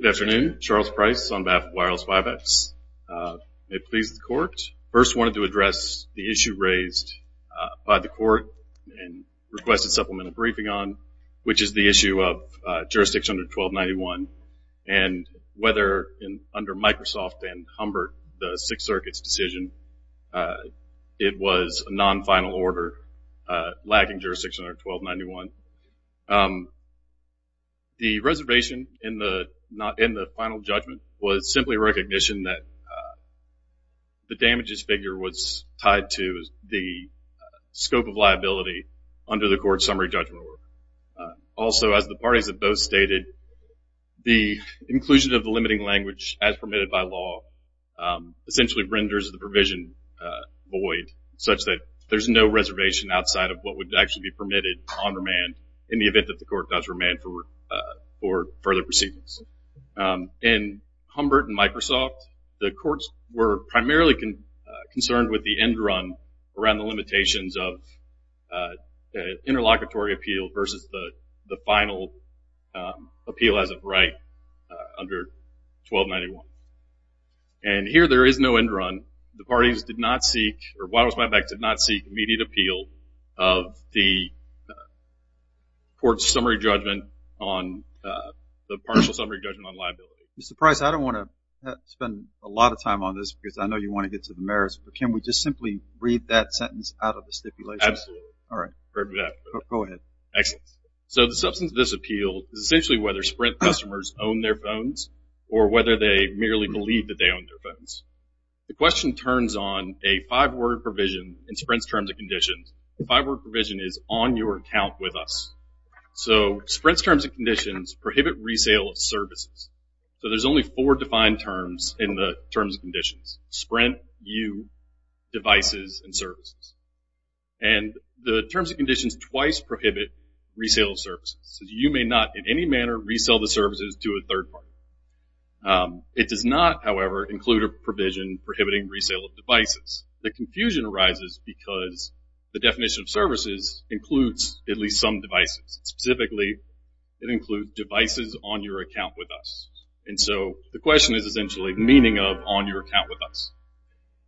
Good afternoon, Charles Price on behalf of Wireless Buybacks. May it please the court, first wanted to address the issue raised by the court and requested supplemental briefing on, which is the issue of jurisdiction under 1291 and whether under Microsoft and Humbert, the Sixth Circuit's decision, it was a non-final order lacking jurisdiction under 1291. The reservation in the final judgment was simply a recognition that the damages figure was tied to the scope of liability under the court's summary judgment. Also, as the parties have both stated, the inclusion of the limiting language as permitted by law essentially renders the provision void such that there's no reservation outside of what would actually be permitted on remand in the event that the court does remand for further proceedings. In Humbert and Microsoft, the courts were primarily concerned with the end run around the limitations of interlocutory appeal versus the final appeal as of right under 1291. And here there is no end run. The parties did not seek, or Wireless Buybacks did not seek immediate appeal of the court's summary judgment on the partial summary judgment on liability. Mr. Price, I don't want to spend a lot of time on this because I know you want to get to the merits, but can we just simply read that sentence out of the stipulation? Absolutely. All right. Go ahead. Excellent. So the substance of this appeal is essentially whether Sprint customers own their phones or whether they merely believe that they own their phones. The question turns on a five-word provision in Sprint's Terms and Conditions. The five-word provision is on your account with us. So Sprint's Terms and Conditions prohibit resale of services. So there's only four defined terms in the Terms and Conditions. Sprint, you, devices, and services. And the Terms and Conditions twice prohibit resale of services. You may not in any manner resale the services to a third party. It does not, however, include a provision prohibiting resale of devices. The confusion arises because the definition of services includes at least some devices. Specifically, it includes devices on your account with us. And so the question is essentially meaning of on your account with us.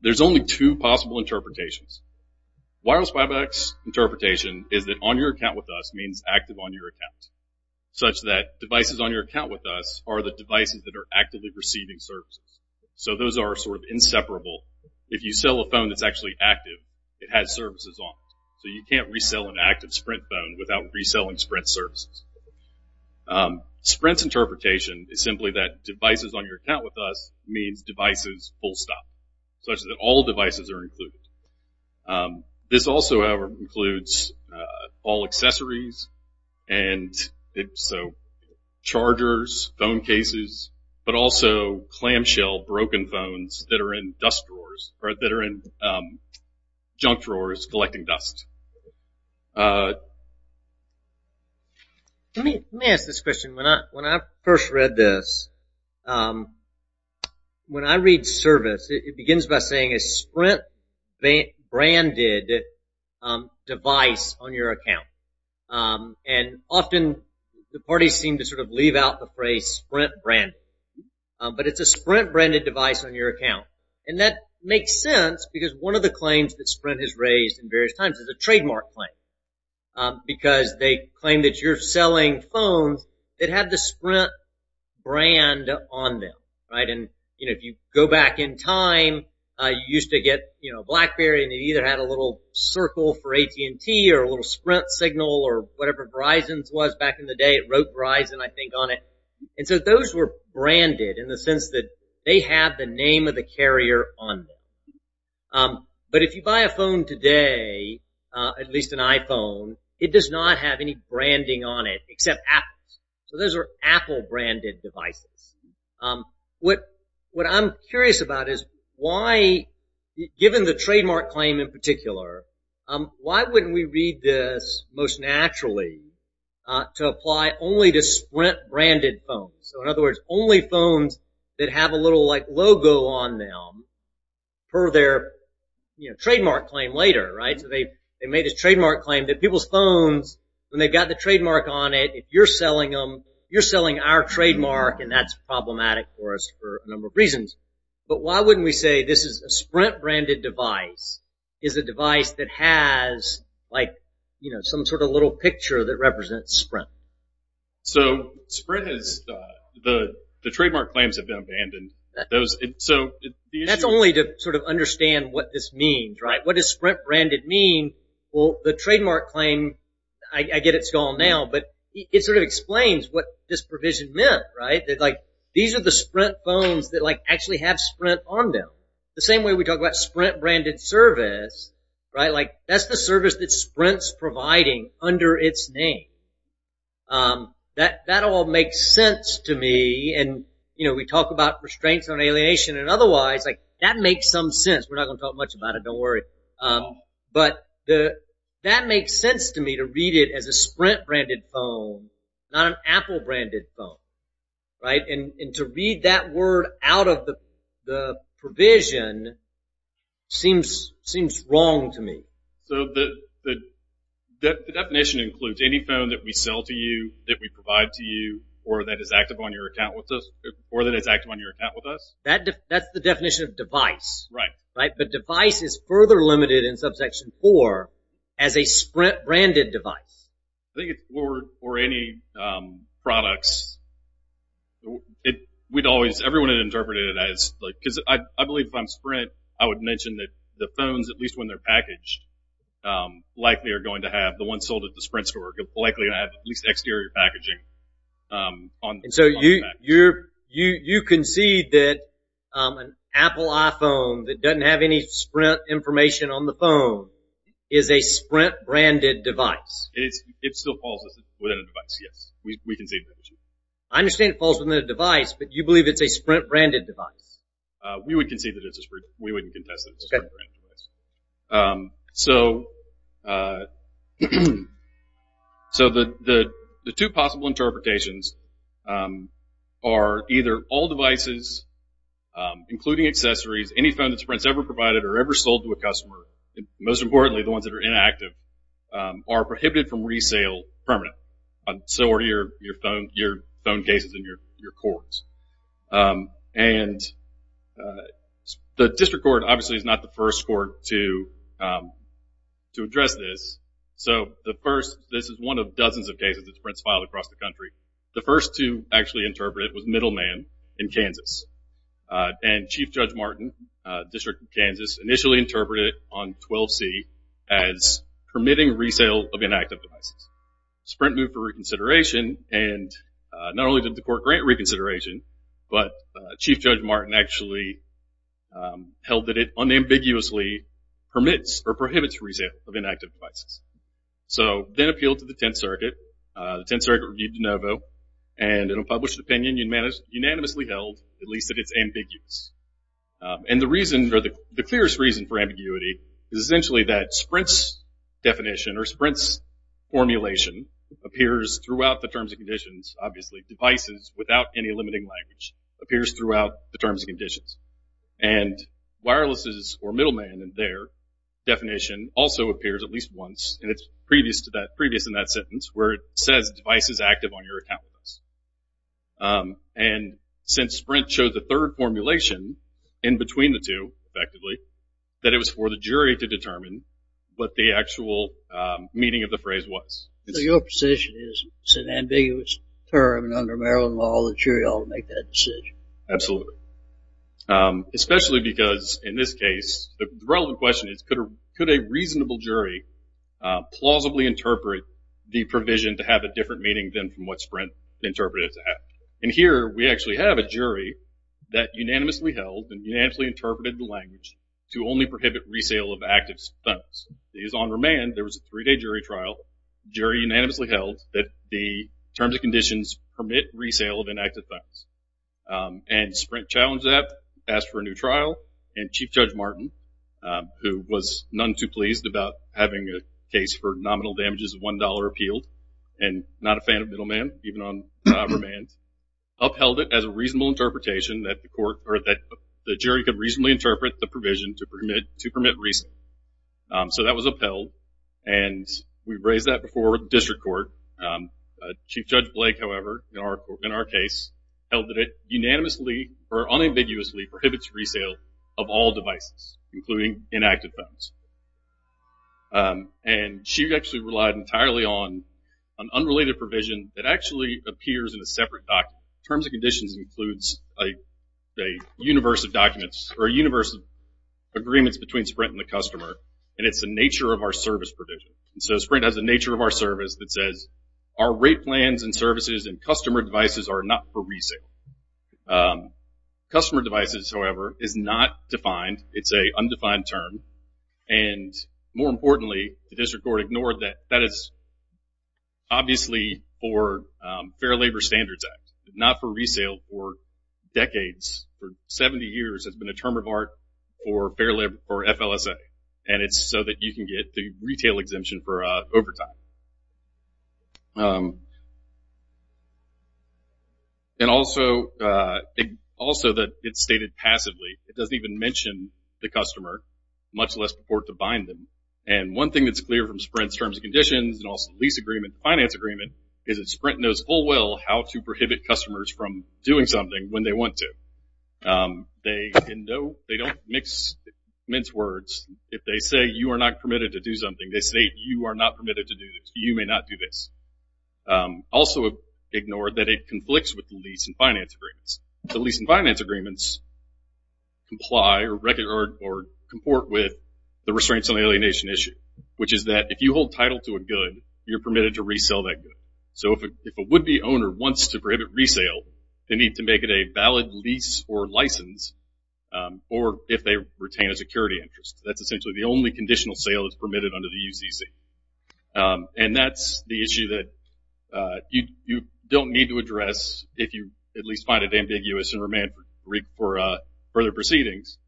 There's only two possible interpretations. Wireless Buybacks' interpretation is that on your account with us means active on your account, such that devices on your account with us are the devices that are actively receiving services. So those are sort of inseparable. If you sell a phone that's actually active, it has services on it. So you can't resell an active Sprint phone without reselling Sprint services. Sprint's interpretation is simply that devices on your account with us means devices full stop, such that all devices are active. It includes all accessories, and so chargers, phone cases, but also clamshell broken phones that are in dust drawers, or that are in junk drawers collecting dust. Let me ask this question. When I first read this, when I read service, it begins by saying a Sprint-branded device on your account. And often the parties seem to sort of leave out the phrase Sprint-branded. But it's a Sprint-branded device on your account. And that makes sense because one of the claims that Sprint has raised in various times is a trademark claim. Because they claim that you're selling phones that have the Sprint brand on them, right? And if you go back in time, you used to get Blackberry, and you either had a little circle for AT&T or a little Sprint signal or whatever Verizon's was back in the day. It wrote Verizon, I think, on it. And so those were branded in the sense that they have the name of the carrier on them. But if you buy a phone today, at least an iPhone, it does not have any branding on it except Apple's. So those are Apple-branded devices. What I'm curious about is why, given the trademark claim in particular, why wouldn't we read this most naturally to apply only to Sprint-branded phones? So in other words, only phones that have a little, like, logo on them per their, you know, trademark claim later, right? So they made this trademark claim that people's phones, when they've got the trademark on it, if you're selling them, you're selling our trademark, and that's problematic for us for a number of reasons. But why wouldn't we say this is a Sprint-branded device is a device that has, like, you know, some sort of little picture that represents Sprint? So Sprint is the trademark claims have been abandoned. So the issue is... What does Sprint-branded mean? Well, the trademark claim, I get it's gone now, but it sort of explains what this provision meant, right? That, like, these are the Sprint phones that, like, actually have Sprint on them. The same way we talk about Sprint-branded service, right? Like, that's the service that Sprint's providing under its name. That all makes sense to me, and, you know, we talk about restraints on alienation and otherwise, like, that makes some sense. We're not going to talk much about it. Don't worry. But that makes sense to me to read it as a Sprint-branded phone, not an Apple-branded phone, right? And to read that word out of the provision seems wrong to me. So the definition includes any phone that we sell to you, that we provide to you, or that is active on your account with us, or that is active on your account with us? That's the definition of device. Right. Right? But device is further limited in Subsection 4 as a Sprint-branded device. I think it's for any products. We'd always, everyone had interpreted it as, like, because I believe if I'm Sprint, I would mention that the phones, at least when they're packaged, likely are going to have, the ones sold at the Sprint store, likely are going to have at least exterior packaging on the package. And so you concede that an Apple iPhone that doesn't have any Sprint information on the phone is a Sprint-branded device? It still falls within a device, yes. We concede that it's a Sprint. I understand it falls within a device, but you believe it's a Sprint-branded device? We would concede that it's a Sprint. We wouldn't are either all devices, including accessories, any phone that Sprint's ever provided or ever sold to a customer, most importantly the ones that are inactive, are prohibited from resale permanent. So are your phone cases in your courts. And the District Court, obviously, is not the first court to address this. So the first, this is one of dozens of cases that Sprint's filed across the country. The first to actually interpret it was Middleman in Kansas. And Chief Judge Martin, District of Kansas, initially interpreted it on 12C as permitting resale of inactive devices. Sprint moved for reconsideration, and not only did the court grant reconsideration, but Chief Judge Martin actually held that it unambiguously permits or prohibits resale of inactive devices. So then appealed to the Tenth Circuit. The Tenth Circuit reviewed de novo, and in a published opinion, unanimously held at least that it's ambiguous. And the reason, or the clearest reason for ambiguity is essentially that Sprint's definition or Sprint's formulation appears throughout the terms and conditions. Obviously, devices without any limiting language appears throughout the terms and conditions. And wireless's, or Middleman and their, definition also appears at least once, and it's previous to that, previous in that sentence, where it says device is active on your account list. And since Sprint showed the third formulation in between the two, effectively, that it was for the jury to determine what the actual meaning of the phrase was. So your position is it's an ambiguous term, and under Maryland law, the jury ought to make that decision. Absolutely. Especially because, in this case, the relevant question is, could a reasonable jury plausibly interpret the provision to have a different meaning than what Sprint interpreted it to have? And here, we actually have a jury that unanimously held and unanimously interpreted the language to only prohibit resale of active phones. On remand, there was a three-day jury trial. The jury unanimously held that the terms and conditions permit resale of inactive phones. And Sprint challenged that, asked for a new trial, and Chief Judge Martin, who was none other than having a case for nominal damages of $1 appealed, and not a fan of middleman, even on remand, upheld it as a reasonable interpretation that the jury could reasonably interpret the provision to permit resale. So that was upheld, and we've raised that before with the district court. Chief Judge Blake, however, in our case, held that it unanimously or unambiguously prohibits resale of all devices, including inactive phones. And she actually relied entirely on an unrelated provision that actually appears in a separate document. Terms and conditions includes a universe of documents, or a universe of agreements between Sprint and the customer, and it's the nature of our service provision. And so Sprint has a nature of our service that says, our rate plans and services and customer devices are not for resale. Customer devices, however, is not defined. It's an undefined term. And more importantly, the district court ignored that. That is obviously for Fair Labor Standards Act, not for resale for decades. For 70 years, it's been a term of art for FLSA, and it's so that you can get the retail exemption for overtime. And also that it's stated passively. It doesn't even mention the customer, much less support to bind them. And one thing that's clear from Sprint's terms and conditions and also lease agreement, finance agreement, is that Sprint knows full well how to prohibit customers from doing something when they want to. They don't mince words. If they say you are not permitted to do something, they say you are not permitted to do this. You may not do this. Also ignored that it conflicts with the lease and finance agreements. The lease and finance agreements comply or record or comport with the restraints on alienation issue, which is that if you hold title to a good, you're permitted to resell that good. So if a would-be owner wants to prohibit resale, they need to make it a valid lease or license, or if they retain a security interest. That's essentially the only conditional sale that's permitted under the UCC. And that's the issue that you don't need to address if you at least find it ambiguous and remand for further proceedings.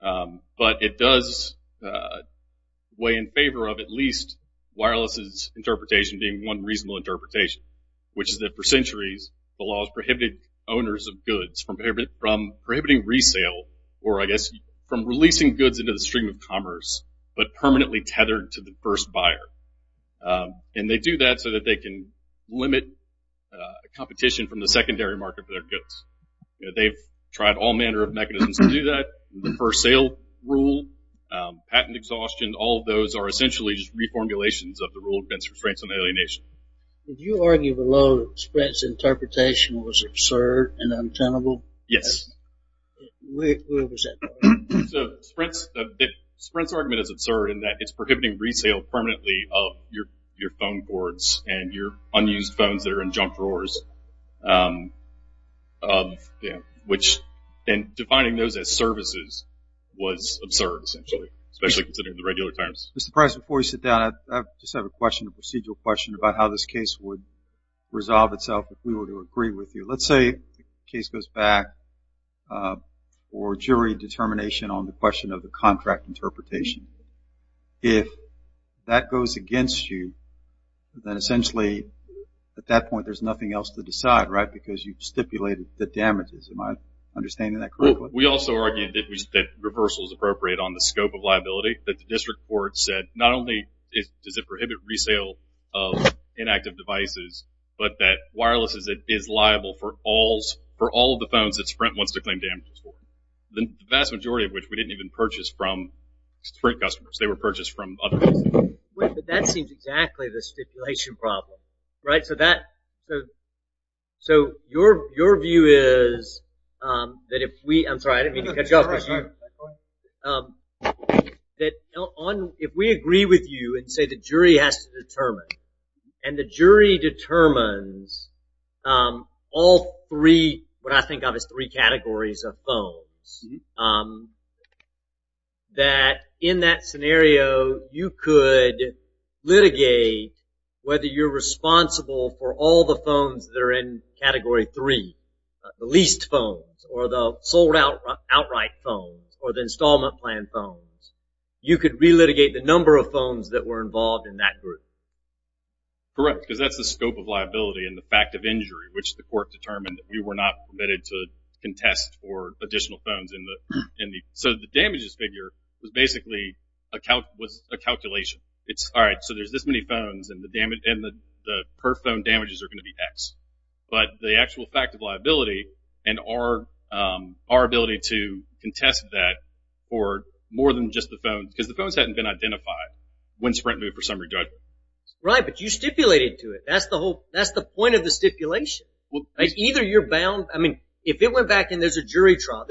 But it does weigh in favor of at least wireless's interpretation being one reasonable interpretation, which is that for centuries the law has prohibited owners of goods from prohibiting resale or I guess from releasing goods into the stream of commerce but permanently tethered to the first buyer. And they do that so that they can limit competition from the secondary market for their goods. They've tried all manner of mechanisms to do that, the first sale rule, patent exhaustion. All of those are essentially just reformulations of the rule against restraints on alienation. Would you argue below that Sprint's interpretation was absurd and untenable? Yes. What was that? Sprint's argument is absurd in that it's prohibiting resale permanently of your phone boards and your unused phones that are in junk drawers, which then defining those as services was absurd, essentially, especially considering the regular terms. Mr. Price, before you sit down, I just have a question, a procedural question, about how this case would resolve itself if we were to agree with you. Let's say the case goes back for jury determination on the question of the contract interpretation. If that goes against you, then essentially at that point there's nothing else to decide, right, because you've stipulated the damages. Am I understanding that correctly? We also argued that reversal is appropriate on the scope of liability, that the district court said not only does it prohibit resale of inactive devices, but that wireless is liable for all of the phones that Sprint wants to claim damages for, the vast majority of which we didn't even purchase from Sprint customers. They were purchased from other companies. But that seems exactly the stipulation problem, right? So your view is that if we agree with you and say the jury has to determine, and the jury determines all three, what I think of as three categories of phones, that in that scenario you could litigate whether you're responsible for all the phones that are in category three, the leased phones or the sold outright phones or the installment plan phones. You could relitigate the number of phones that were involved in that group. Correct, because that's the scope of liability and the fact of injury, which the court determined that we were not permitted to contest for additional phones. So the damages figure was basically a calculation. All right, so there's this many phones, and the per-phone damages are going to be X. But the actual fact of liability and our ability to contest that for more than just the phones, because the phones hadn't been identified when Sprint moved for summary judgment. Right, but you stipulated to it. That's the point of the stipulation. Either you're bound. I mean, if it went back and there's a jury trial.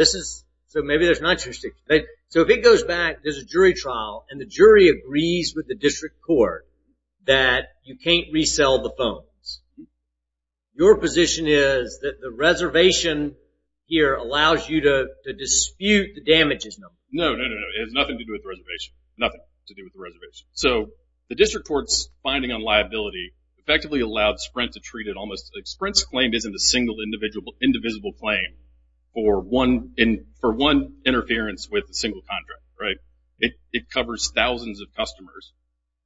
So maybe there's not your stipulation. So if it goes back, there's a jury trial, and the jury agrees with the district court that you can't resell the phones. Your position is that the reservation here allows you to dispute the damages number. No, no, no, no. So the district court's finding on liability effectively allowed Sprint to treat it almost. Sprint's claim isn't a single, indivisible claim for one interference with a single contract, right? It covers thousands of customers,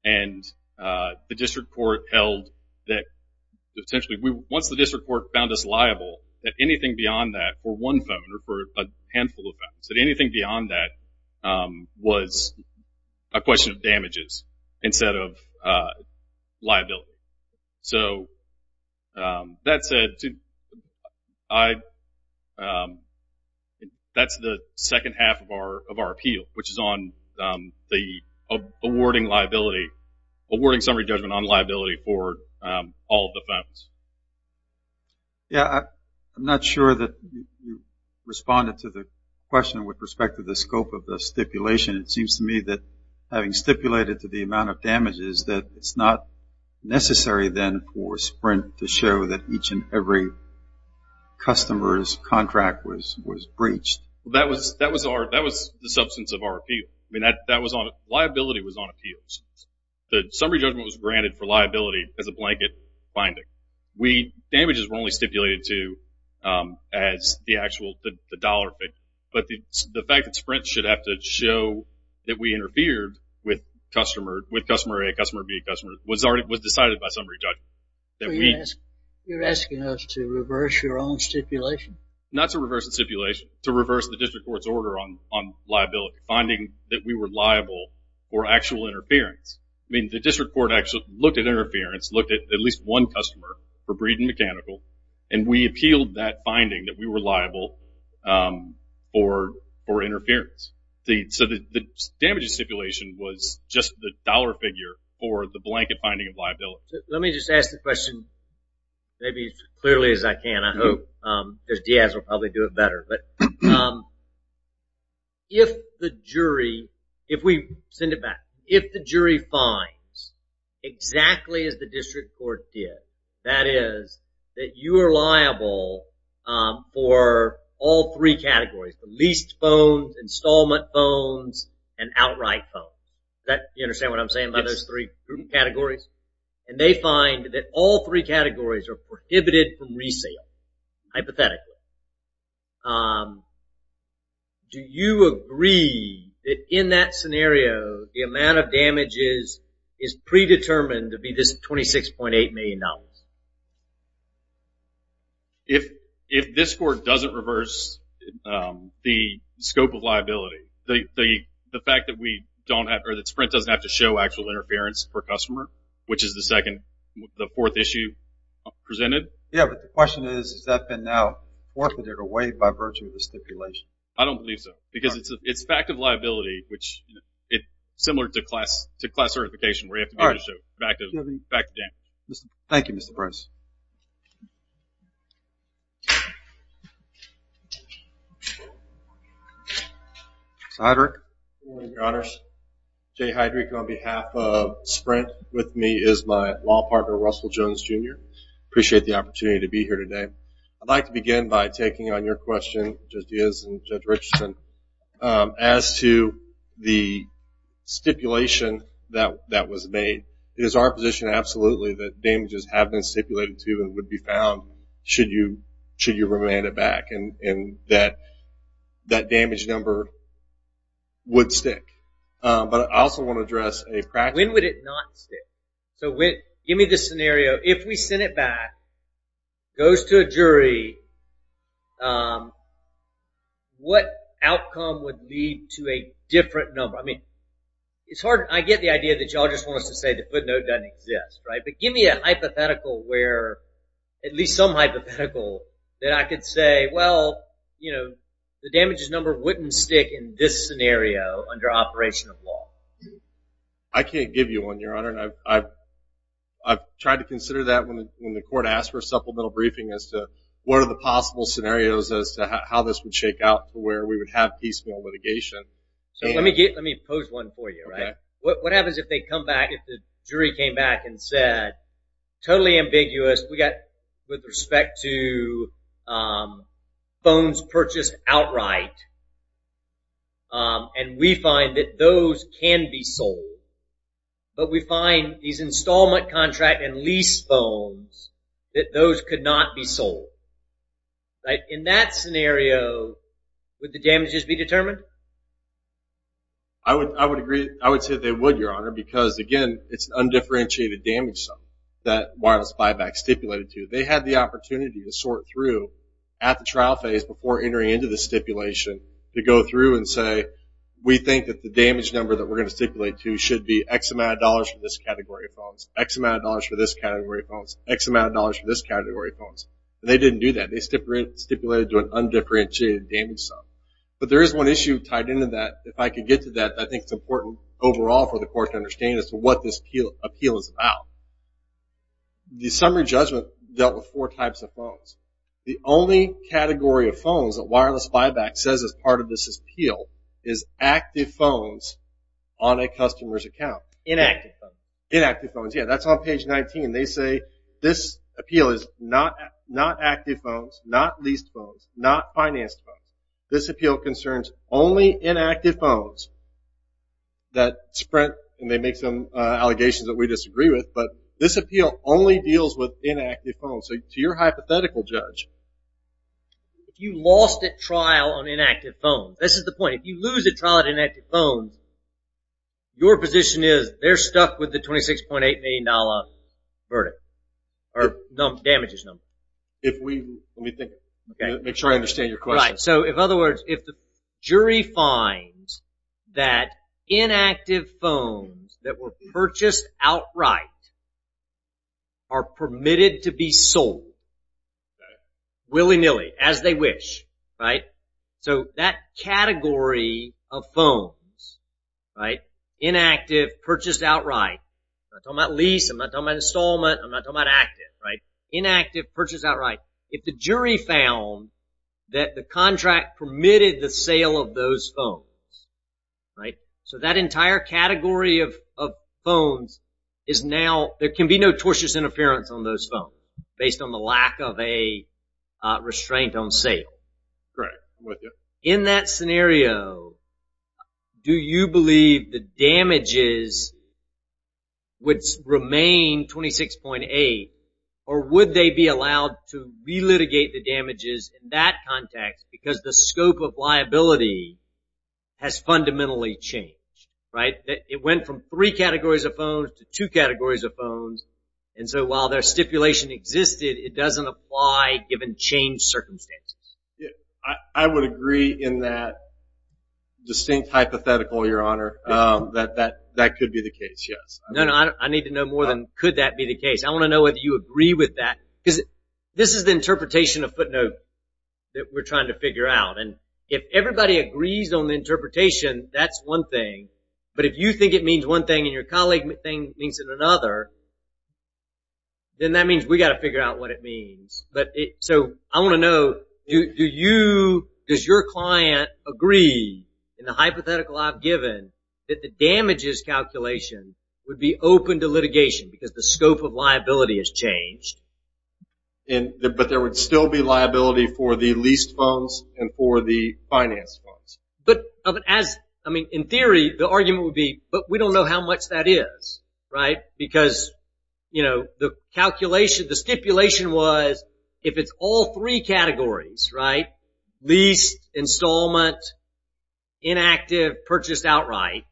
and the district court held that potentially once the district court found us liable, that anything beyond that for one phone or for a handful of phones, that anything beyond that was a question of damages instead of liability. So that said, that's the second half of our appeal, which is on awarding summary judgment on liability for all of the phones. Yeah, I'm not sure that you responded to the question with respect to the scope of the stipulation. It seems to me that having stipulated to the amount of damages, that it's not necessary then for Sprint to show that each and every customer's contract was breached. That was the substance of our appeal. I mean, liability was on appeals. The summary judgment was granted for liability as a blanket finding. Damages were only stipulated to as the actual, the dollar thing. But the fact that Sprint should have to show that we interfered with customer A, customer B, customer, was decided by summary judgment. So you're asking us to reverse your own stipulation? Not to reverse the stipulation, to reverse the district court's order on liability, finding that we were liable for actual interference. I mean, the district court actually looked at interference, looked at at least one customer for Breed and Mechanical, and we appealed that finding that we were liable for interference. So the damages stipulation was just the dollar figure for the blanket finding of liability. Let me just ask the question maybe as clearly as I can. I hope, because Diaz will probably do it better. But if the jury, if we send it back, if the jury finds exactly as the district court did, that is that you are liable for all three categories, the leased phones, installment phones, and outright phones. You understand what I'm saying about those three categories? And they find that all three categories are prohibited from resale, hypothetically. Do you agree that in that scenario the amount of damages is predetermined to be this $26.8 million? If this court doesn't reverse the scope of liability, the fact that Sprint doesn't have to show actual interference per customer, which is the fourth issue presented. Yeah, but the question is, has that been now forfeited away by virtue of the stipulation? I don't believe so, because it's fact of liability, which is similar to class certification where you have to be able to show fact of damages. Thank you, Mr. Price. Mr. Heydrich. Good morning, Your Honors. Jay Heydrich on behalf of Sprint. With me is my law partner, Russell Jones, Jr. I appreciate the opportunity to be here today. I'd like to begin by taking on your question, Judge Diaz and Judge Richardson, as to the stipulation that was made. It is our position absolutely that damages have been stipulated to and would be found should you remand it back. And that damage number would stick. But I also want to address a practical question. When would it not stick? Give me the scenario. If we send it back, goes to a jury, what outcome would lead to a different number? I mean, I get the idea that you all just want us to say the footnote doesn't exist. But give me a hypothetical where, at least some hypothetical, that I could say, well, you know, the damages number wouldn't stick in this scenario under operation of law. I can't give you one, Your Honor. I've tried to consider that when the court asked for a supplemental briefing as to what are the possible scenarios as to how this would shake out to where we would have peaceful litigation. Let me pose one for you. What happens if they come back, if the jury came back and said, totally ambiguous, we got with respect to phones purchased outright, and we find that those can be sold, but we find these installment contract and lease phones, that those could not be sold. In that scenario, would the damages be determined? I would agree. I would say they would, Your Honor, because, again, it's an undifferentiated damage. That wireless buyback stipulated to. They had the opportunity to sort through at the trial phase before entering into the stipulation to go through and say, we think that the damage number that we're going to stipulate to should be X amount of dollars for this category of phones, X amount of dollars for this category of phones, X amount of dollars for this category of phones. And they didn't do that. They stipulated to an undifferentiated damage sum. But there is one issue tied into that. If I could get to that, I think it's important overall for the court to understand as to what this appeal is about. The summary judgment dealt with four types of phones. The only category of phones that wireless buyback says is part of this appeal is active phones on a customer's account. Inactive phones. Inactive phones, yeah. That's on page 19. They say this appeal is not active phones, not leased phones, not financed phones. This appeal concerns only inactive phones that Sprint, and they make some allegations that we disagree with, but this appeal only deals with inactive phones. So to your hypothetical judge. You lost at trial on inactive phones. This is the point. If you lose at trial on inactive phones, your position is they're stuck with the $26.8 million damage number. Let me think. Make sure I understand your question. Right. So in other words, if the jury finds that inactive phones that were purchased outright are permitted to be sold willy-nilly, as they wish, right? So that category of phones, right, inactive, purchased outright. I'm not talking about lease. I'm not talking about installment. I'm not talking about active, right? Inactive, purchased outright. If the jury found that the contract permitted the sale of those phones, right, so that entire category of phones is now, there can be no tortious interference on those phones, based on the lack of a restraint on sale. Correct. I'm with you. So in that scenario, do you believe the damages would remain $26.8, or would they be allowed to relitigate the damages in that context, because the scope of liability has fundamentally changed, right? It went from three categories of phones to two categories of phones, and so while their stipulation existed, it doesn't apply given changed circumstances. I would agree in that distinct hypothetical, Your Honor, that that could be the case, yes. No, no, I need to know more than could that be the case. I want to know whether you agree with that, because this is the interpretation of footnote that we're trying to figure out, and if everybody agrees on the interpretation, that's one thing. But if you think it means one thing and your colleague thinks it means another, then that means we've got to figure out what it means. So I want to know, does your client agree in the hypothetical I've given that the damages calculation would be open to litigation because the scope of liability has changed? But there would still be liability for the leased phones and for the finance phones. But in theory, the argument would be, but we don't know how much that is, right? Because the calculation, the stipulation was if it's all three categories, right? Leased, installment, inactive, purchased outright,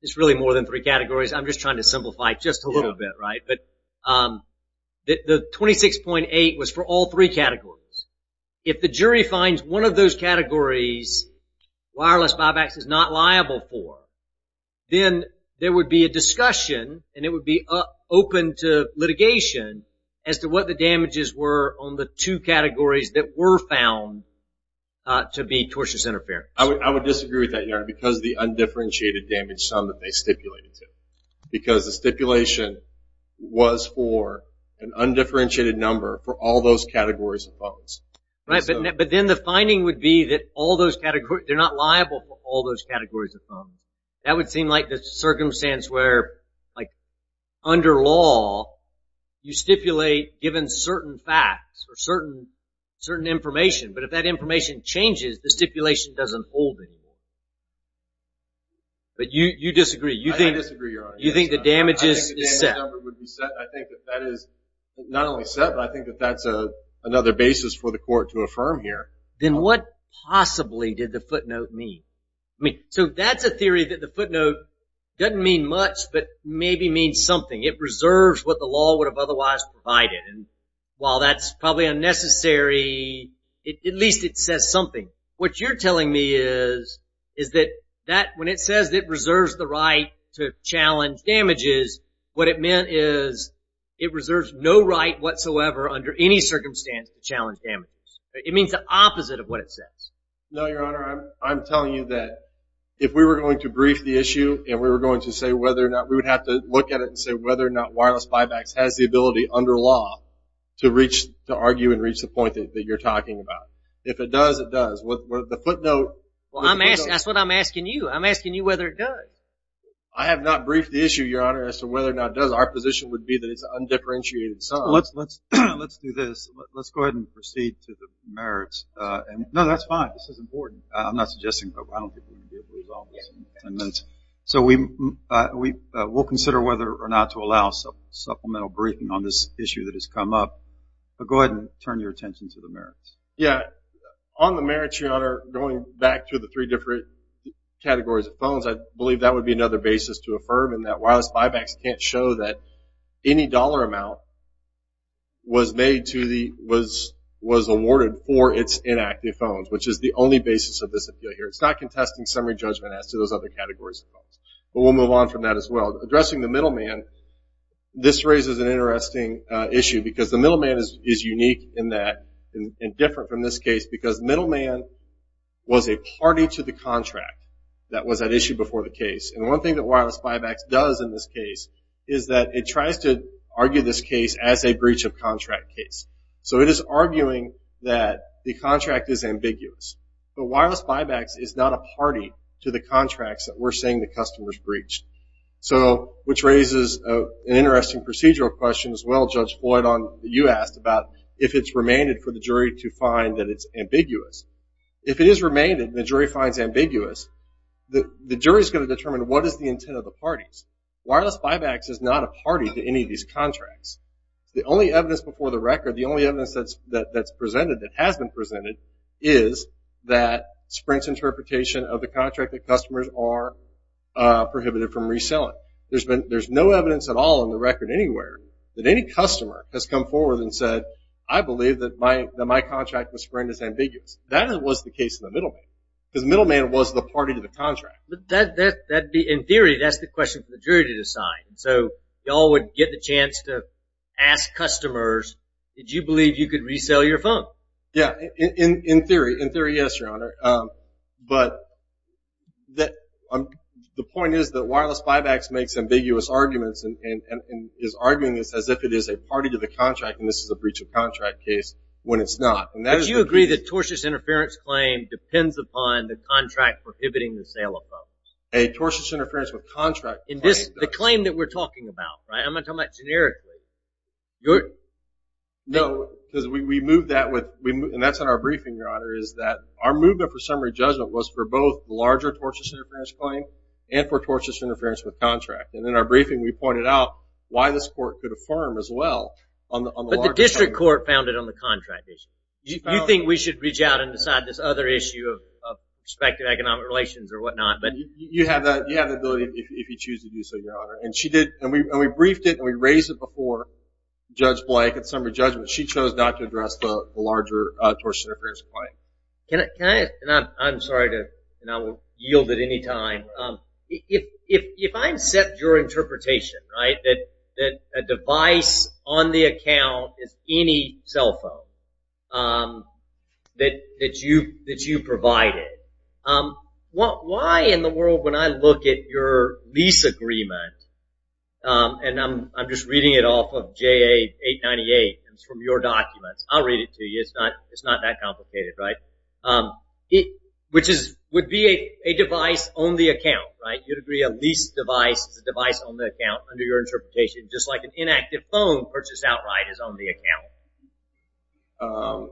it's really more than three categories, I'm just trying to simplify it just a little bit, right? But the 26.8 was for all three categories. If the jury finds one of those categories wireless buybacks is not liable for, then there would be a discussion and it would be open to litigation as to what the damages were on the two categories that were found to be tortious interference. I would disagree with that, because of the undifferentiated damage sum that they stipulated. Because the stipulation was for an undifferentiated number for all those categories of phones. But then the finding would be that they're not liable for all those categories of phones. That would seem like the circumstance where under law, you stipulate given certain facts or certain information. But if that information changes, the stipulation doesn't hold anymore. But you disagree. You think the damages is set. I think that that is not only set, but I think that that's another basis for the court to affirm here. Then what possibly did the footnote mean? So that's a theory that the footnote doesn't mean much, but maybe means something. It reserves what the law would have otherwise provided. And while that's probably unnecessary, at least it says something. What you're telling me is that when it says it reserves the right to challenge damages, what it meant is it reserves no right whatsoever under any circumstance to challenge damages. It means the opposite of what it says. No, Your Honor. I'm telling you that if we were going to brief the issue and we were going to say whether or not, we would have to look at it and say whether or not wireless buybacks has the ability under law to reach, to argue and reach the point that you're talking about. If it does, it does. The footnote. Well, that's what I'm asking you. I'm asking you whether it does. I have not briefed the issue, Your Honor, as to whether or not it does. Our position would be that it's undifferentiated. Let's do this. Let's go ahead and proceed to the merits. No, that's fine. This is important. I'm not suggesting. I don't think we can resolve this in ten minutes. So we'll consider whether or not to allow supplemental briefing on this issue that has come up. But go ahead and turn your attention to the merits. Yeah. On the merits, Your Honor, going back to the three different categories of phones, I believe that would be another basis to affirm, in that wireless buybacks can't show that any dollar amount was made to the, was awarded for its inactive phones, which is the only basis of this appeal here. It's not contesting summary judgment as to those other categories of phones. But we'll move on from that as well. Addressing the middleman, this raises an interesting issue, because the middleman is unique in that, and different from this case, because middleman was a party to the contract that was at issue before the case. And one thing that wireless buybacks does in this case is that it tries to argue this case as a breach of contract case. So it is arguing that the contract is ambiguous. But wireless buybacks is not a party to the contracts that we're saying the customer's breached. So, which raises an interesting procedural question as well, Judge Floyd, about if it's remained for the jury to find that it's ambiguous. If it is remained and the jury finds ambiguous, the jury's going to determine what is the intent of the parties. Wireless buybacks is not a party to any of these contracts. The only evidence before the record, the only evidence that's presented, that has been presented, is that Sprint's interpretation of the contract that customers are prohibited from reselling. There's no evidence at all in the record anywhere that any customer has come forward and said, I believe that my contract with Sprint is ambiguous. That was the case in the middleman, because middleman was the party to the contract. In theory, that's the question for the jury to decide. So you all would get the chance to ask customers, did you believe you could resell your phone? Yeah, in theory, yes, Your Honor. But the point is that wireless buybacks makes ambiguous arguments and is arguing this as if it is a party to the contract, and this is a breach of contract case, when it's not. But you agree that tortious interference claim depends upon the contract prohibiting the sale of phones? A tortious interference with contract claim does. In this, the claim that we're talking about, right? I'm going to talk about it generically. No, because we moved that, and that's in our briefing, Your Honor, is that our movement for summary judgment was for both the larger tortious interference claim and for tortious interference with contract. And in our briefing, we pointed out why this court could affirm as well. But the district court found it on the contract issue. Do you think we should reach out and decide this other issue of prospective economic relations or whatnot? And we briefed it, and we raised it before Judge Blake at summary judgment. She chose not to address the larger tortious interference claim. Can I – and I'm sorry to – and I will yield at any time. If I accept your interpretation, right, that a device on the account is any cell phone that you provided, why in the world when I look at your lease agreement, and I'm just reading it off of JA898, and it's from your documents, I'll read it to you, it's not that complicated, right, which would be a device on the account, right? You'd agree a lease device is a device on the account under your interpretation, just like an inactive phone purchased outright is on the account?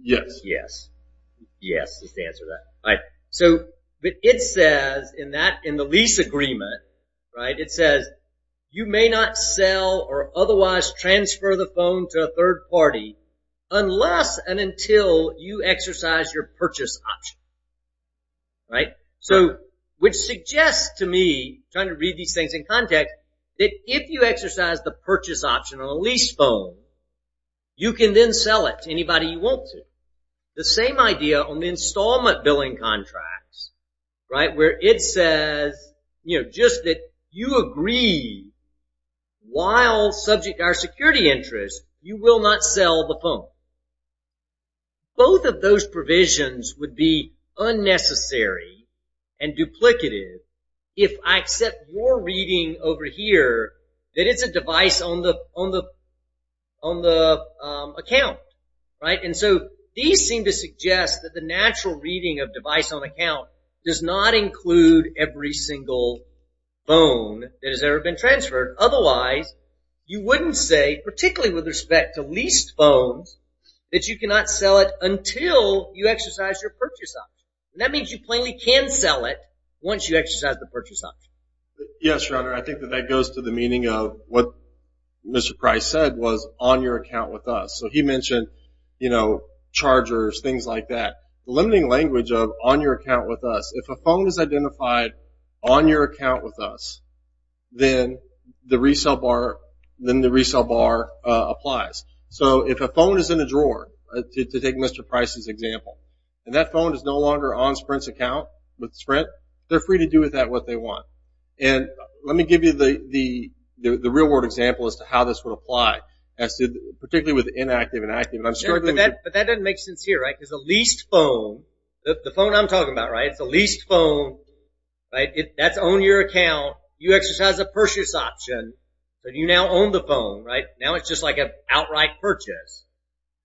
Yes. Yes. Yes is the answer to that. So it says in the lease agreement, right, it says, you may not sell or otherwise transfer the phone to a third party unless and until you exercise your purchase option, right? So which suggests to me, trying to read these things in context, that if you exercise the purchase option on a lease phone, you can then sell it to anybody you want to. The same idea on the installment billing contracts, right, where it says, you know, just that you agree while subject to our security interests, you will not sell the phone. Both of those provisions would be unnecessary and duplicative if I accept your reading over here that it's a device on the account, right? And so these seem to suggest that the natural reading of device on account does not include every single phone that has ever been transferred. Otherwise, you wouldn't say, particularly with respect to leased phones, that you cannot sell it until you exercise your purchase option. And that means you plainly can sell it once you exercise the purchase option. Yes, Your Honor. I think that that goes to the meaning of what Mr. Price said was on your account with us. So he mentioned, you know, chargers, things like that. The limiting language of on your account with us, if a phone is identified on your account with us, then the resale bar applies. So if a phone is in a drawer, to take Mr. Price's example, and that phone is no longer on Sprint's account with Sprint, they're free to do with that what they want. And let me give you the real-world example as to how this would apply, particularly with inactive and active. But that doesn't make sense here, right, because a leased phone, the phone I'm talking about, right, that's on your account. You exercise a purchase option, but you now own the phone, right? Now it's just like an outright purchase.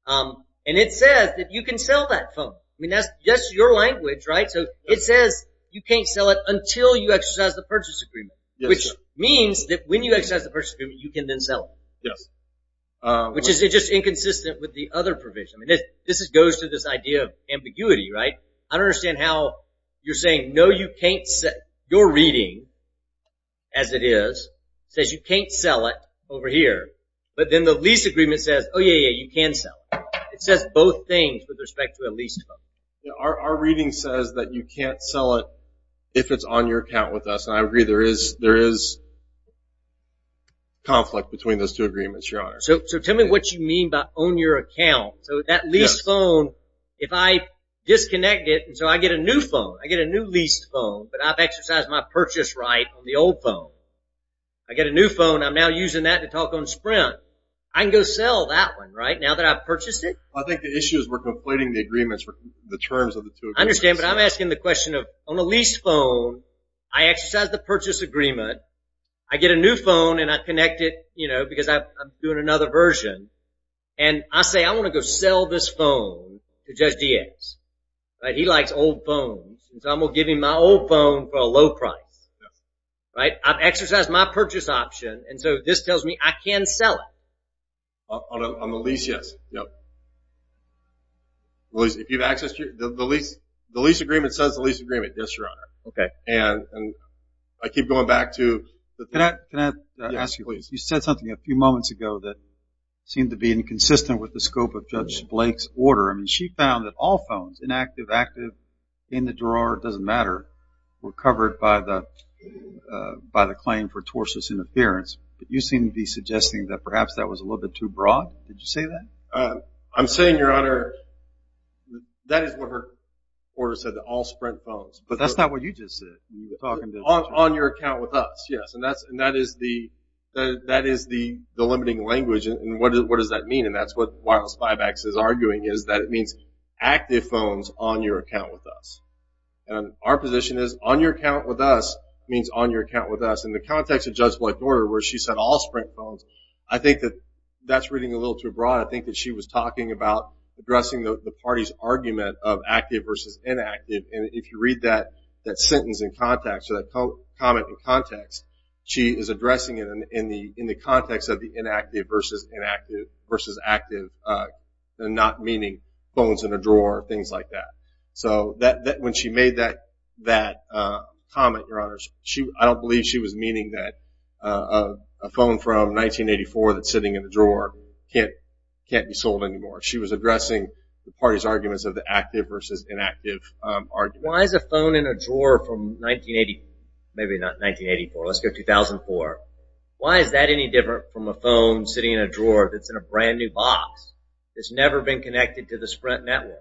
And it says that you can sell that phone. I mean, that's just your language, right? So it says you can't sell it until you exercise the purchase agreement, which means that when you exercise the purchase agreement, you can then sell it. Yes. Which is just inconsistent with the other provision. I mean, this goes to this idea of ambiguity, right? I don't understand how you're saying, no, you can't sell. Your reading, as it is, says you can't sell it over here. But then the lease agreement says, oh, yeah, yeah, you can sell. It says both things with respect to a leased phone. Our reading says that you can't sell it if it's on your account with us, and I agree there is conflict between those two agreements, Your Honor. So tell me what you mean by own your account. So that leased phone, if I disconnect it, so I get a new phone. I get a new leased phone, but I've exercised my purchase right on the old phone. I get a new phone. I'm now using that to talk on Sprint. I can go sell that one, right, now that I've purchased it? I think the issue is we're conflating the terms of the two agreements. I understand, but I'm asking the question of on a leased phone, I exercise the purchase agreement. I get a new phone, and I connect it, you know, because I'm doing another version. And I say I want to go sell this phone to Judge Diaz, right? He likes old phones, so I'm going to give him my old phone for a low price, right? I've exercised my purchase option, and so this tells me I can sell it. On the lease, yes. If you've accessed your lease, the lease agreement says the lease agreement. Yes, Your Honor. Okay. And I keep going back to the thing. Can I ask you a question? Yes, please. You said something a few moments ago that seemed to be inconsistent with the scope of Judge Blake's order. I mean, she found that all phones, inactive, active, in the drawer, it doesn't matter, were covered by the claim for tortuous interference. But you seem to be suggesting that perhaps that was a little bit too broad. Did you say that? I'm saying, Your Honor, that is what her order said, that all Sprint phones. But that's not what you just said. You were talking to Judge Blake. On your account with us, yes. And that is the limiting language. And what does that mean? And that's what Wireless 5X is arguing is that it means active phones on your account with us. And our position is on your account with us means on your account with us. In the context of Judge Blake's order where she said all Sprint phones, I think that that's reading a little too broad. I think that she was talking about addressing the party's argument of active versus inactive. And if you read that sentence in context, that comment in context, she is addressing it in the context of the inactive versus active and not meaning phones in a drawer, things like that. So when she made that comment, Your Honor, I don't believe she was meaning that a phone from 1984 that's sitting in a drawer can't be sold anymore. She was addressing the party's arguments of the active versus inactive argument. Why is a phone in a drawer from 1980, maybe not 1984, let's go 2004, why is that any different from a phone sitting in a drawer that's in a brand-new box that's never been connected to the Sprint network?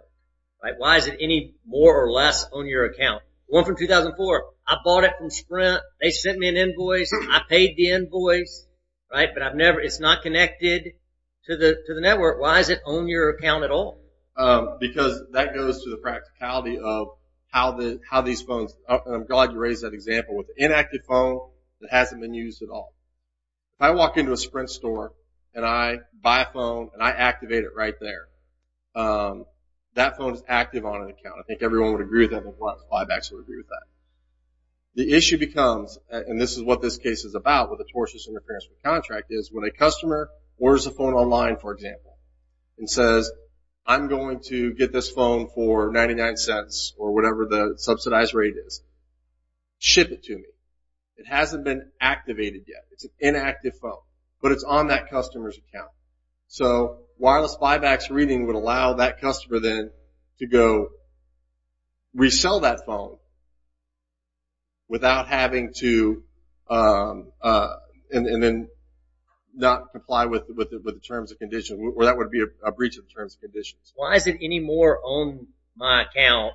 Why is it any more or less on your account? The one from 2004, I bought it from Sprint. They sent me an invoice. I paid the invoice. But it's not connected to the network. Why does it own your account at all? Because that goes to the practicality of how these phones, and I'm glad you raised that example, with an inactive phone that hasn't been used at all. If I walk into a Sprint store and I buy a phone and I activate it right there, that phone is active on an account. I think everyone would agree with that. I think a lot of flybacks would agree with that. The issue becomes, and this is what this case is about, with a tortious interference with a contract, is when a customer orders a phone online, for example, and says, I'm going to get this phone for 99 cents or whatever the subsidized rate is, ship it to me. It hasn't been activated yet. It's an inactive phone. But it's on that customer's account. So wireless flybacks reading would allow that customer then to go resell that phone without having to, and then not comply with the terms and conditions, or that would be a breach of the terms and conditions. Why is it any more on my account,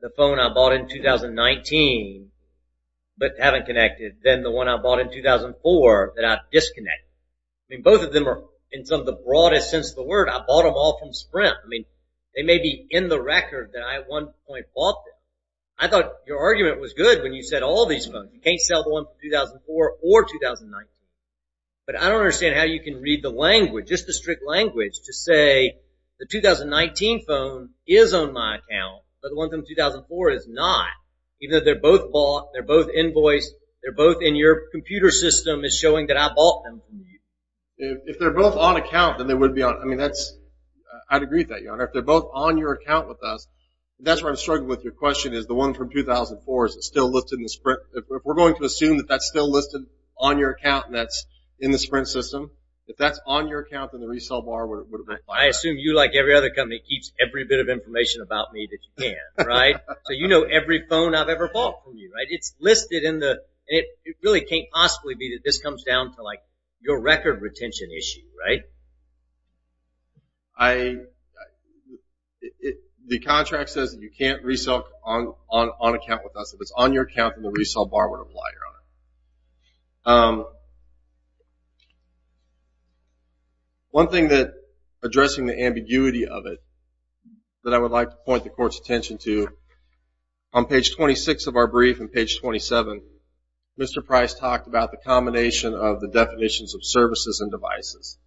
the phone I bought in 2019, but haven't connected, than the one I bought in 2004 that I disconnected? I mean, both of them are in some of the broadest sense of the word. I bought them all from Sprint. I mean, they may be in the record that I at one point bought them. I thought your argument was good when you said all these phones. You can't sell the one from 2004 or 2019. But I don't understand how you can read the language, just the strict language, to say the 2019 phone is on my account, but the one from 2004 is not, even though they're both bought, they're both invoiced, they're both in your computer system is showing that I bought them from you. If they're both on account, then they would be on – I mean, that's – I'd agree with that, Your Honor. If they're both on your account with us, that's where I'm struggling with your question, is the one from 2004, is it still listed in the Sprint? If we're going to assume that that's still listed on your account and that's in the Sprint system, if that's on your account, then the resale bar would have been high. I assume you, like every other company, keeps every bit of information about me that you can, right? So you know every phone I've ever bought from you, right? It's listed in the – it really can't possibly be that this comes down to, like, your record retention issue, right? I – the contract says that you can't resale on account with us. If it's on your account, then the resale bar would apply, Your Honor. One thing that – addressing the ambiguity of it that I would like to point the Court's attention to, on page 26 of our brief and page 27, Mr. Price talked about the combination of the definitions of services and devices.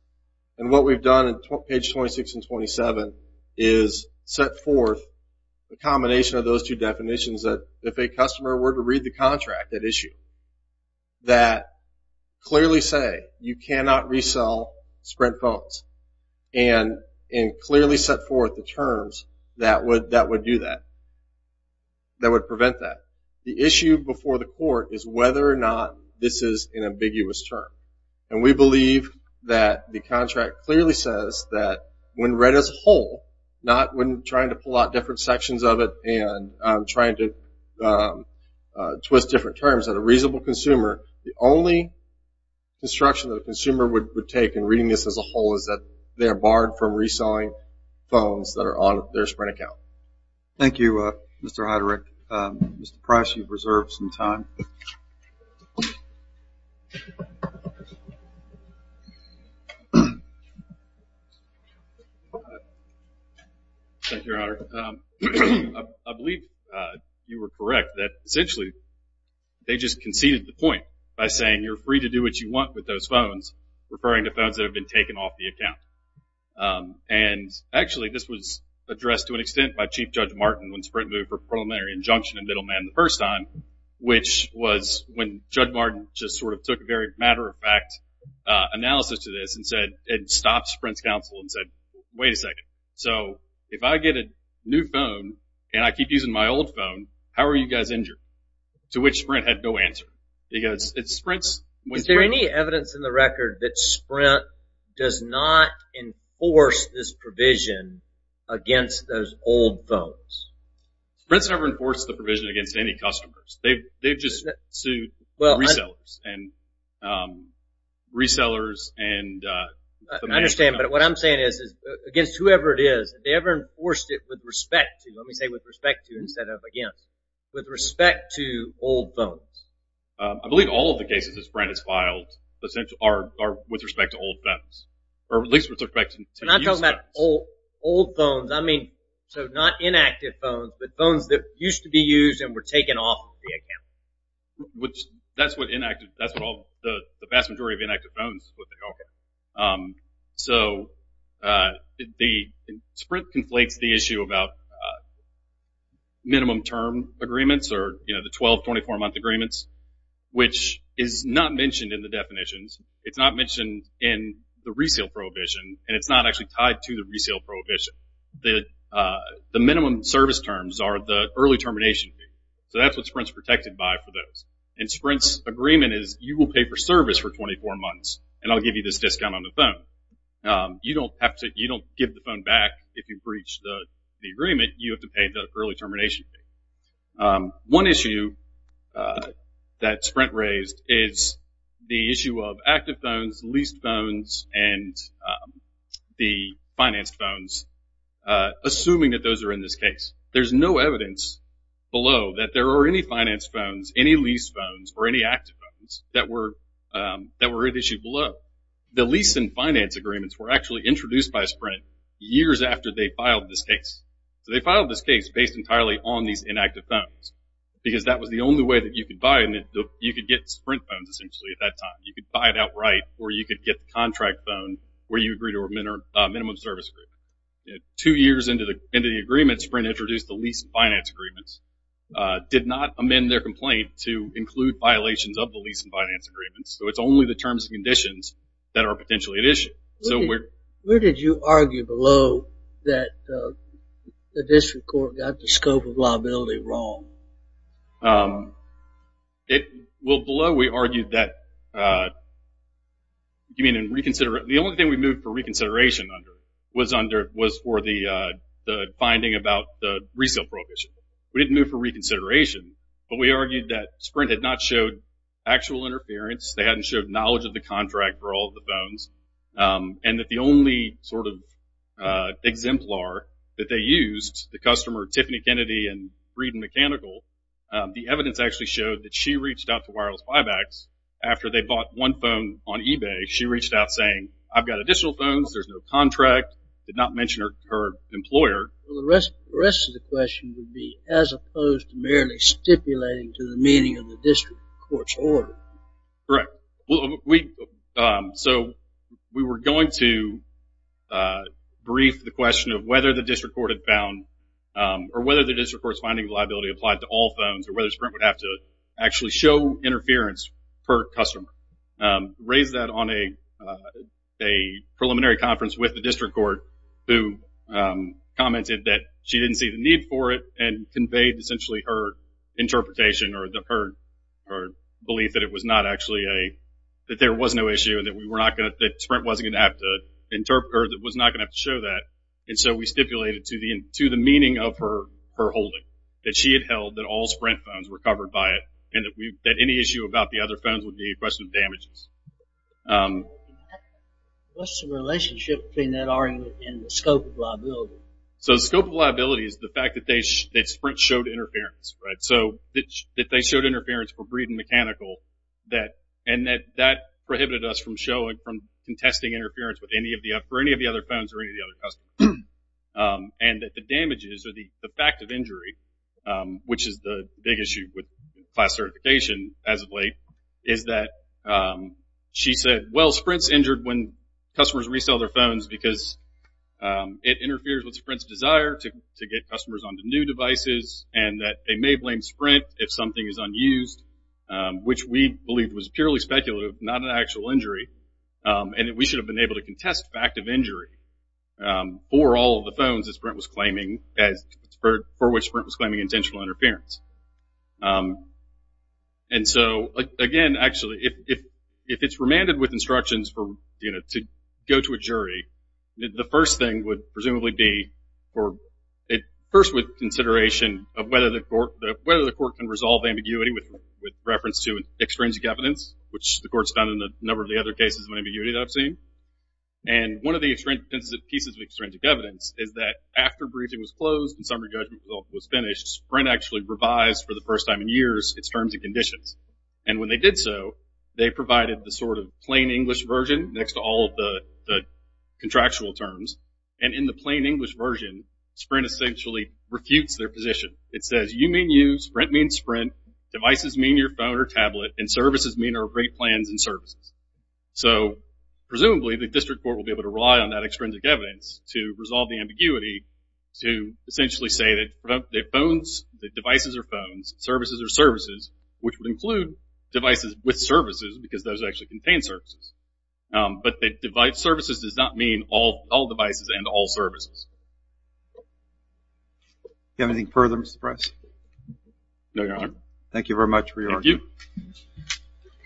And what we've done on page 26 and 27 is set forth the combination of those two definitions that if a customer were to read the contract at issue, that clearly say you cannot resale Sprint phones and clearly set forth the terms that would do that, that would prevent that. The issue before the Court is whether or not this is an ambiguous term. And we believe that the contract clearly says that when read as a whole, not when trying to pull out different sections of it and trying to twist different terms at a reasonable consumer, the only instruction that a consumer would take in reading this as a whole is that they are barred from reselling phones that are on their Sprint account. Thank you, Mr. Heiderich. Mr. Price, you've reserved some time. Thank you, Your Honor. I believe you were correct that essentially they just conceded the point by saying you're free to do what you want with those phones, referring to phones that have been taken off the account. And actually this was addressed to an extent by Chief Judge Martin when Sprint moved for preliminary injunction in Middleman the first time, which was when Judge Martin just sort of took a very matter-of-fact analysis to this and stopped Sprint's counsel and said, wait a second, so if I get a new phone and I keep using my old phone, how are you guys injured? To which Sprint had no answer. Is there any evidence in the record that Sprint does not enforce this provision against those old phones? Sprint's never enforced the provision against any customers. They've just sued resellers and the management company. I understand, but what I'm saying is against whoever it is, have they ever enforced it with respect to, let me say with respect to instead of against, with respect to old phones? I believe all of the cases that Sprint has filed are with respect to old phones, or at least with respect to used phones. Old phones, I mean, so not inactive phones, but phones that used to be used and were taken off of the account. That's what inactive, that's what the vast majority of inactive phones, is what they are. So Sprint conflates the issue about minimum term agreements or the 12, 24-month agreements, which is not mentioned in the definitions. It's not mentioned in the resale prohibition, and it's not actually tied to the resale prohibition. The minimum service terms are the early termination fee. So that's what Sprint's protected by for those. And Sprint's agreement is you will pay for service for 24 months, and I'll give you this discount on the phone. You don't have to, you don't give the phone back if you breach the agreement. You have to pay the early termination fee. One issue that Sprint raised is the issue of active phones, leased phones, and the financed phones, assuming that those are in this case. There's no evidence below that there are any financed phones, any leased phones, or any active phones that were at issue below. The lease and finance agreements were actually introduced by Sprint years after they filed this case. So they filed this case based entirely on these inactive phones, because that was the only way that you could buy them. You could get Sprint phones, essentially, at that time. You could buy it outright, or you could get the contract phone, where you agree to a minimum service agreement. Two years into the agreement, Sprint introduced the lease and finance agreements, did not amend their complaint to include violations of the lease and finance agreements. So it's only the terms and conditions that are potentially at issue. Where did you argue below that the district court got the scope of liability wrong? Well, below we argued that the only thing we moved for reconsideration under was for the finding about the resale prohibition. We didn't move for reconsideration, but we argued that Sprint had not showed actual interference, they hadn't showed knowledge of the contract for all of the phones, and that the only sort of exemplar that they used, the customer Tiffany Kennedy and Breeden Mechanical, the evidence actually showed that she reached out to Wireless Buybacks after they bought one phone on eBay. She reached out saying, I've got additional phones, there's no contract, did not mention her employer. Well, the rest of the question would be, as opposed to merely stipulating to the meaning of the district court's order, correct. So we were going to brief the question of whether the district court had found, or whether the district court's finding of liability applied to all phones, or whether Sprint would have to actually show interference per customer. Raise that on a preliminary conference with the district court who commented that she didn't see the need for it and conveyed essentially her interpretation or belief that it was not actually a, that there was no issue and that Sprint wasn't going to have to interpret, that it was not going to have to show that. And so we stipulated to the meaning of her holding, that she had held that all Sprint phones were covered by it and that any issue about the other phones would be a question of damages. What's the relationship between that argument and the scope of liability? So the scope of liability is the fact that Sprint showed interference. So that they showed interference for breed and mechanical, and that that prohibited us from showing, from contesting interference with any of the other phones or any of the other customers. And that the damages or the fact of injury, which is the big issue with class certification as of late, is that she said, well, Sprint's injured when customers resell their phones because it interferes with Sprint's desire to get customers onto new devices and that they may blame Sprint if something is unused, which we believe was purely speculative, not an actual injury. And that we should have been able to contest the fact of injury for all of the phones that Sprint was claiming, for which Sprint was claiming intentional interference. And so, again, actually, if it's remanded with instructions to go to a jury, the first thing would presumably be, first with consideration, of whether the court can resolve ambiguity with reference to extrinsic evidence, which the court's done in a number of the other cases of ambiguity that I've seen. And one of the pieces of extrinsic evidence is that after briefing was closed and summary judgment was finished, Sprint actually revised for the first time in years its terms and conditions. And when they did so, they provided the sort of plain English version next to all of the contractual terms. And in the plain English version, Sprint essentially refutes their position. It says, you mean you, Sprint means Sprint, devices mean your phone or tablet, and services mean our great plans and services. So presumably the district court will be able to rely on that extrinsic evidence to resolve the ambiguity to essentially say that phones, that devices are phones, services are services, which would include devices with services because those actually contain services. But services does not mean all devices and all services. Do you have anything further, Mr. Price? No, Your Honor. Thank you very much for your argument. Thank you.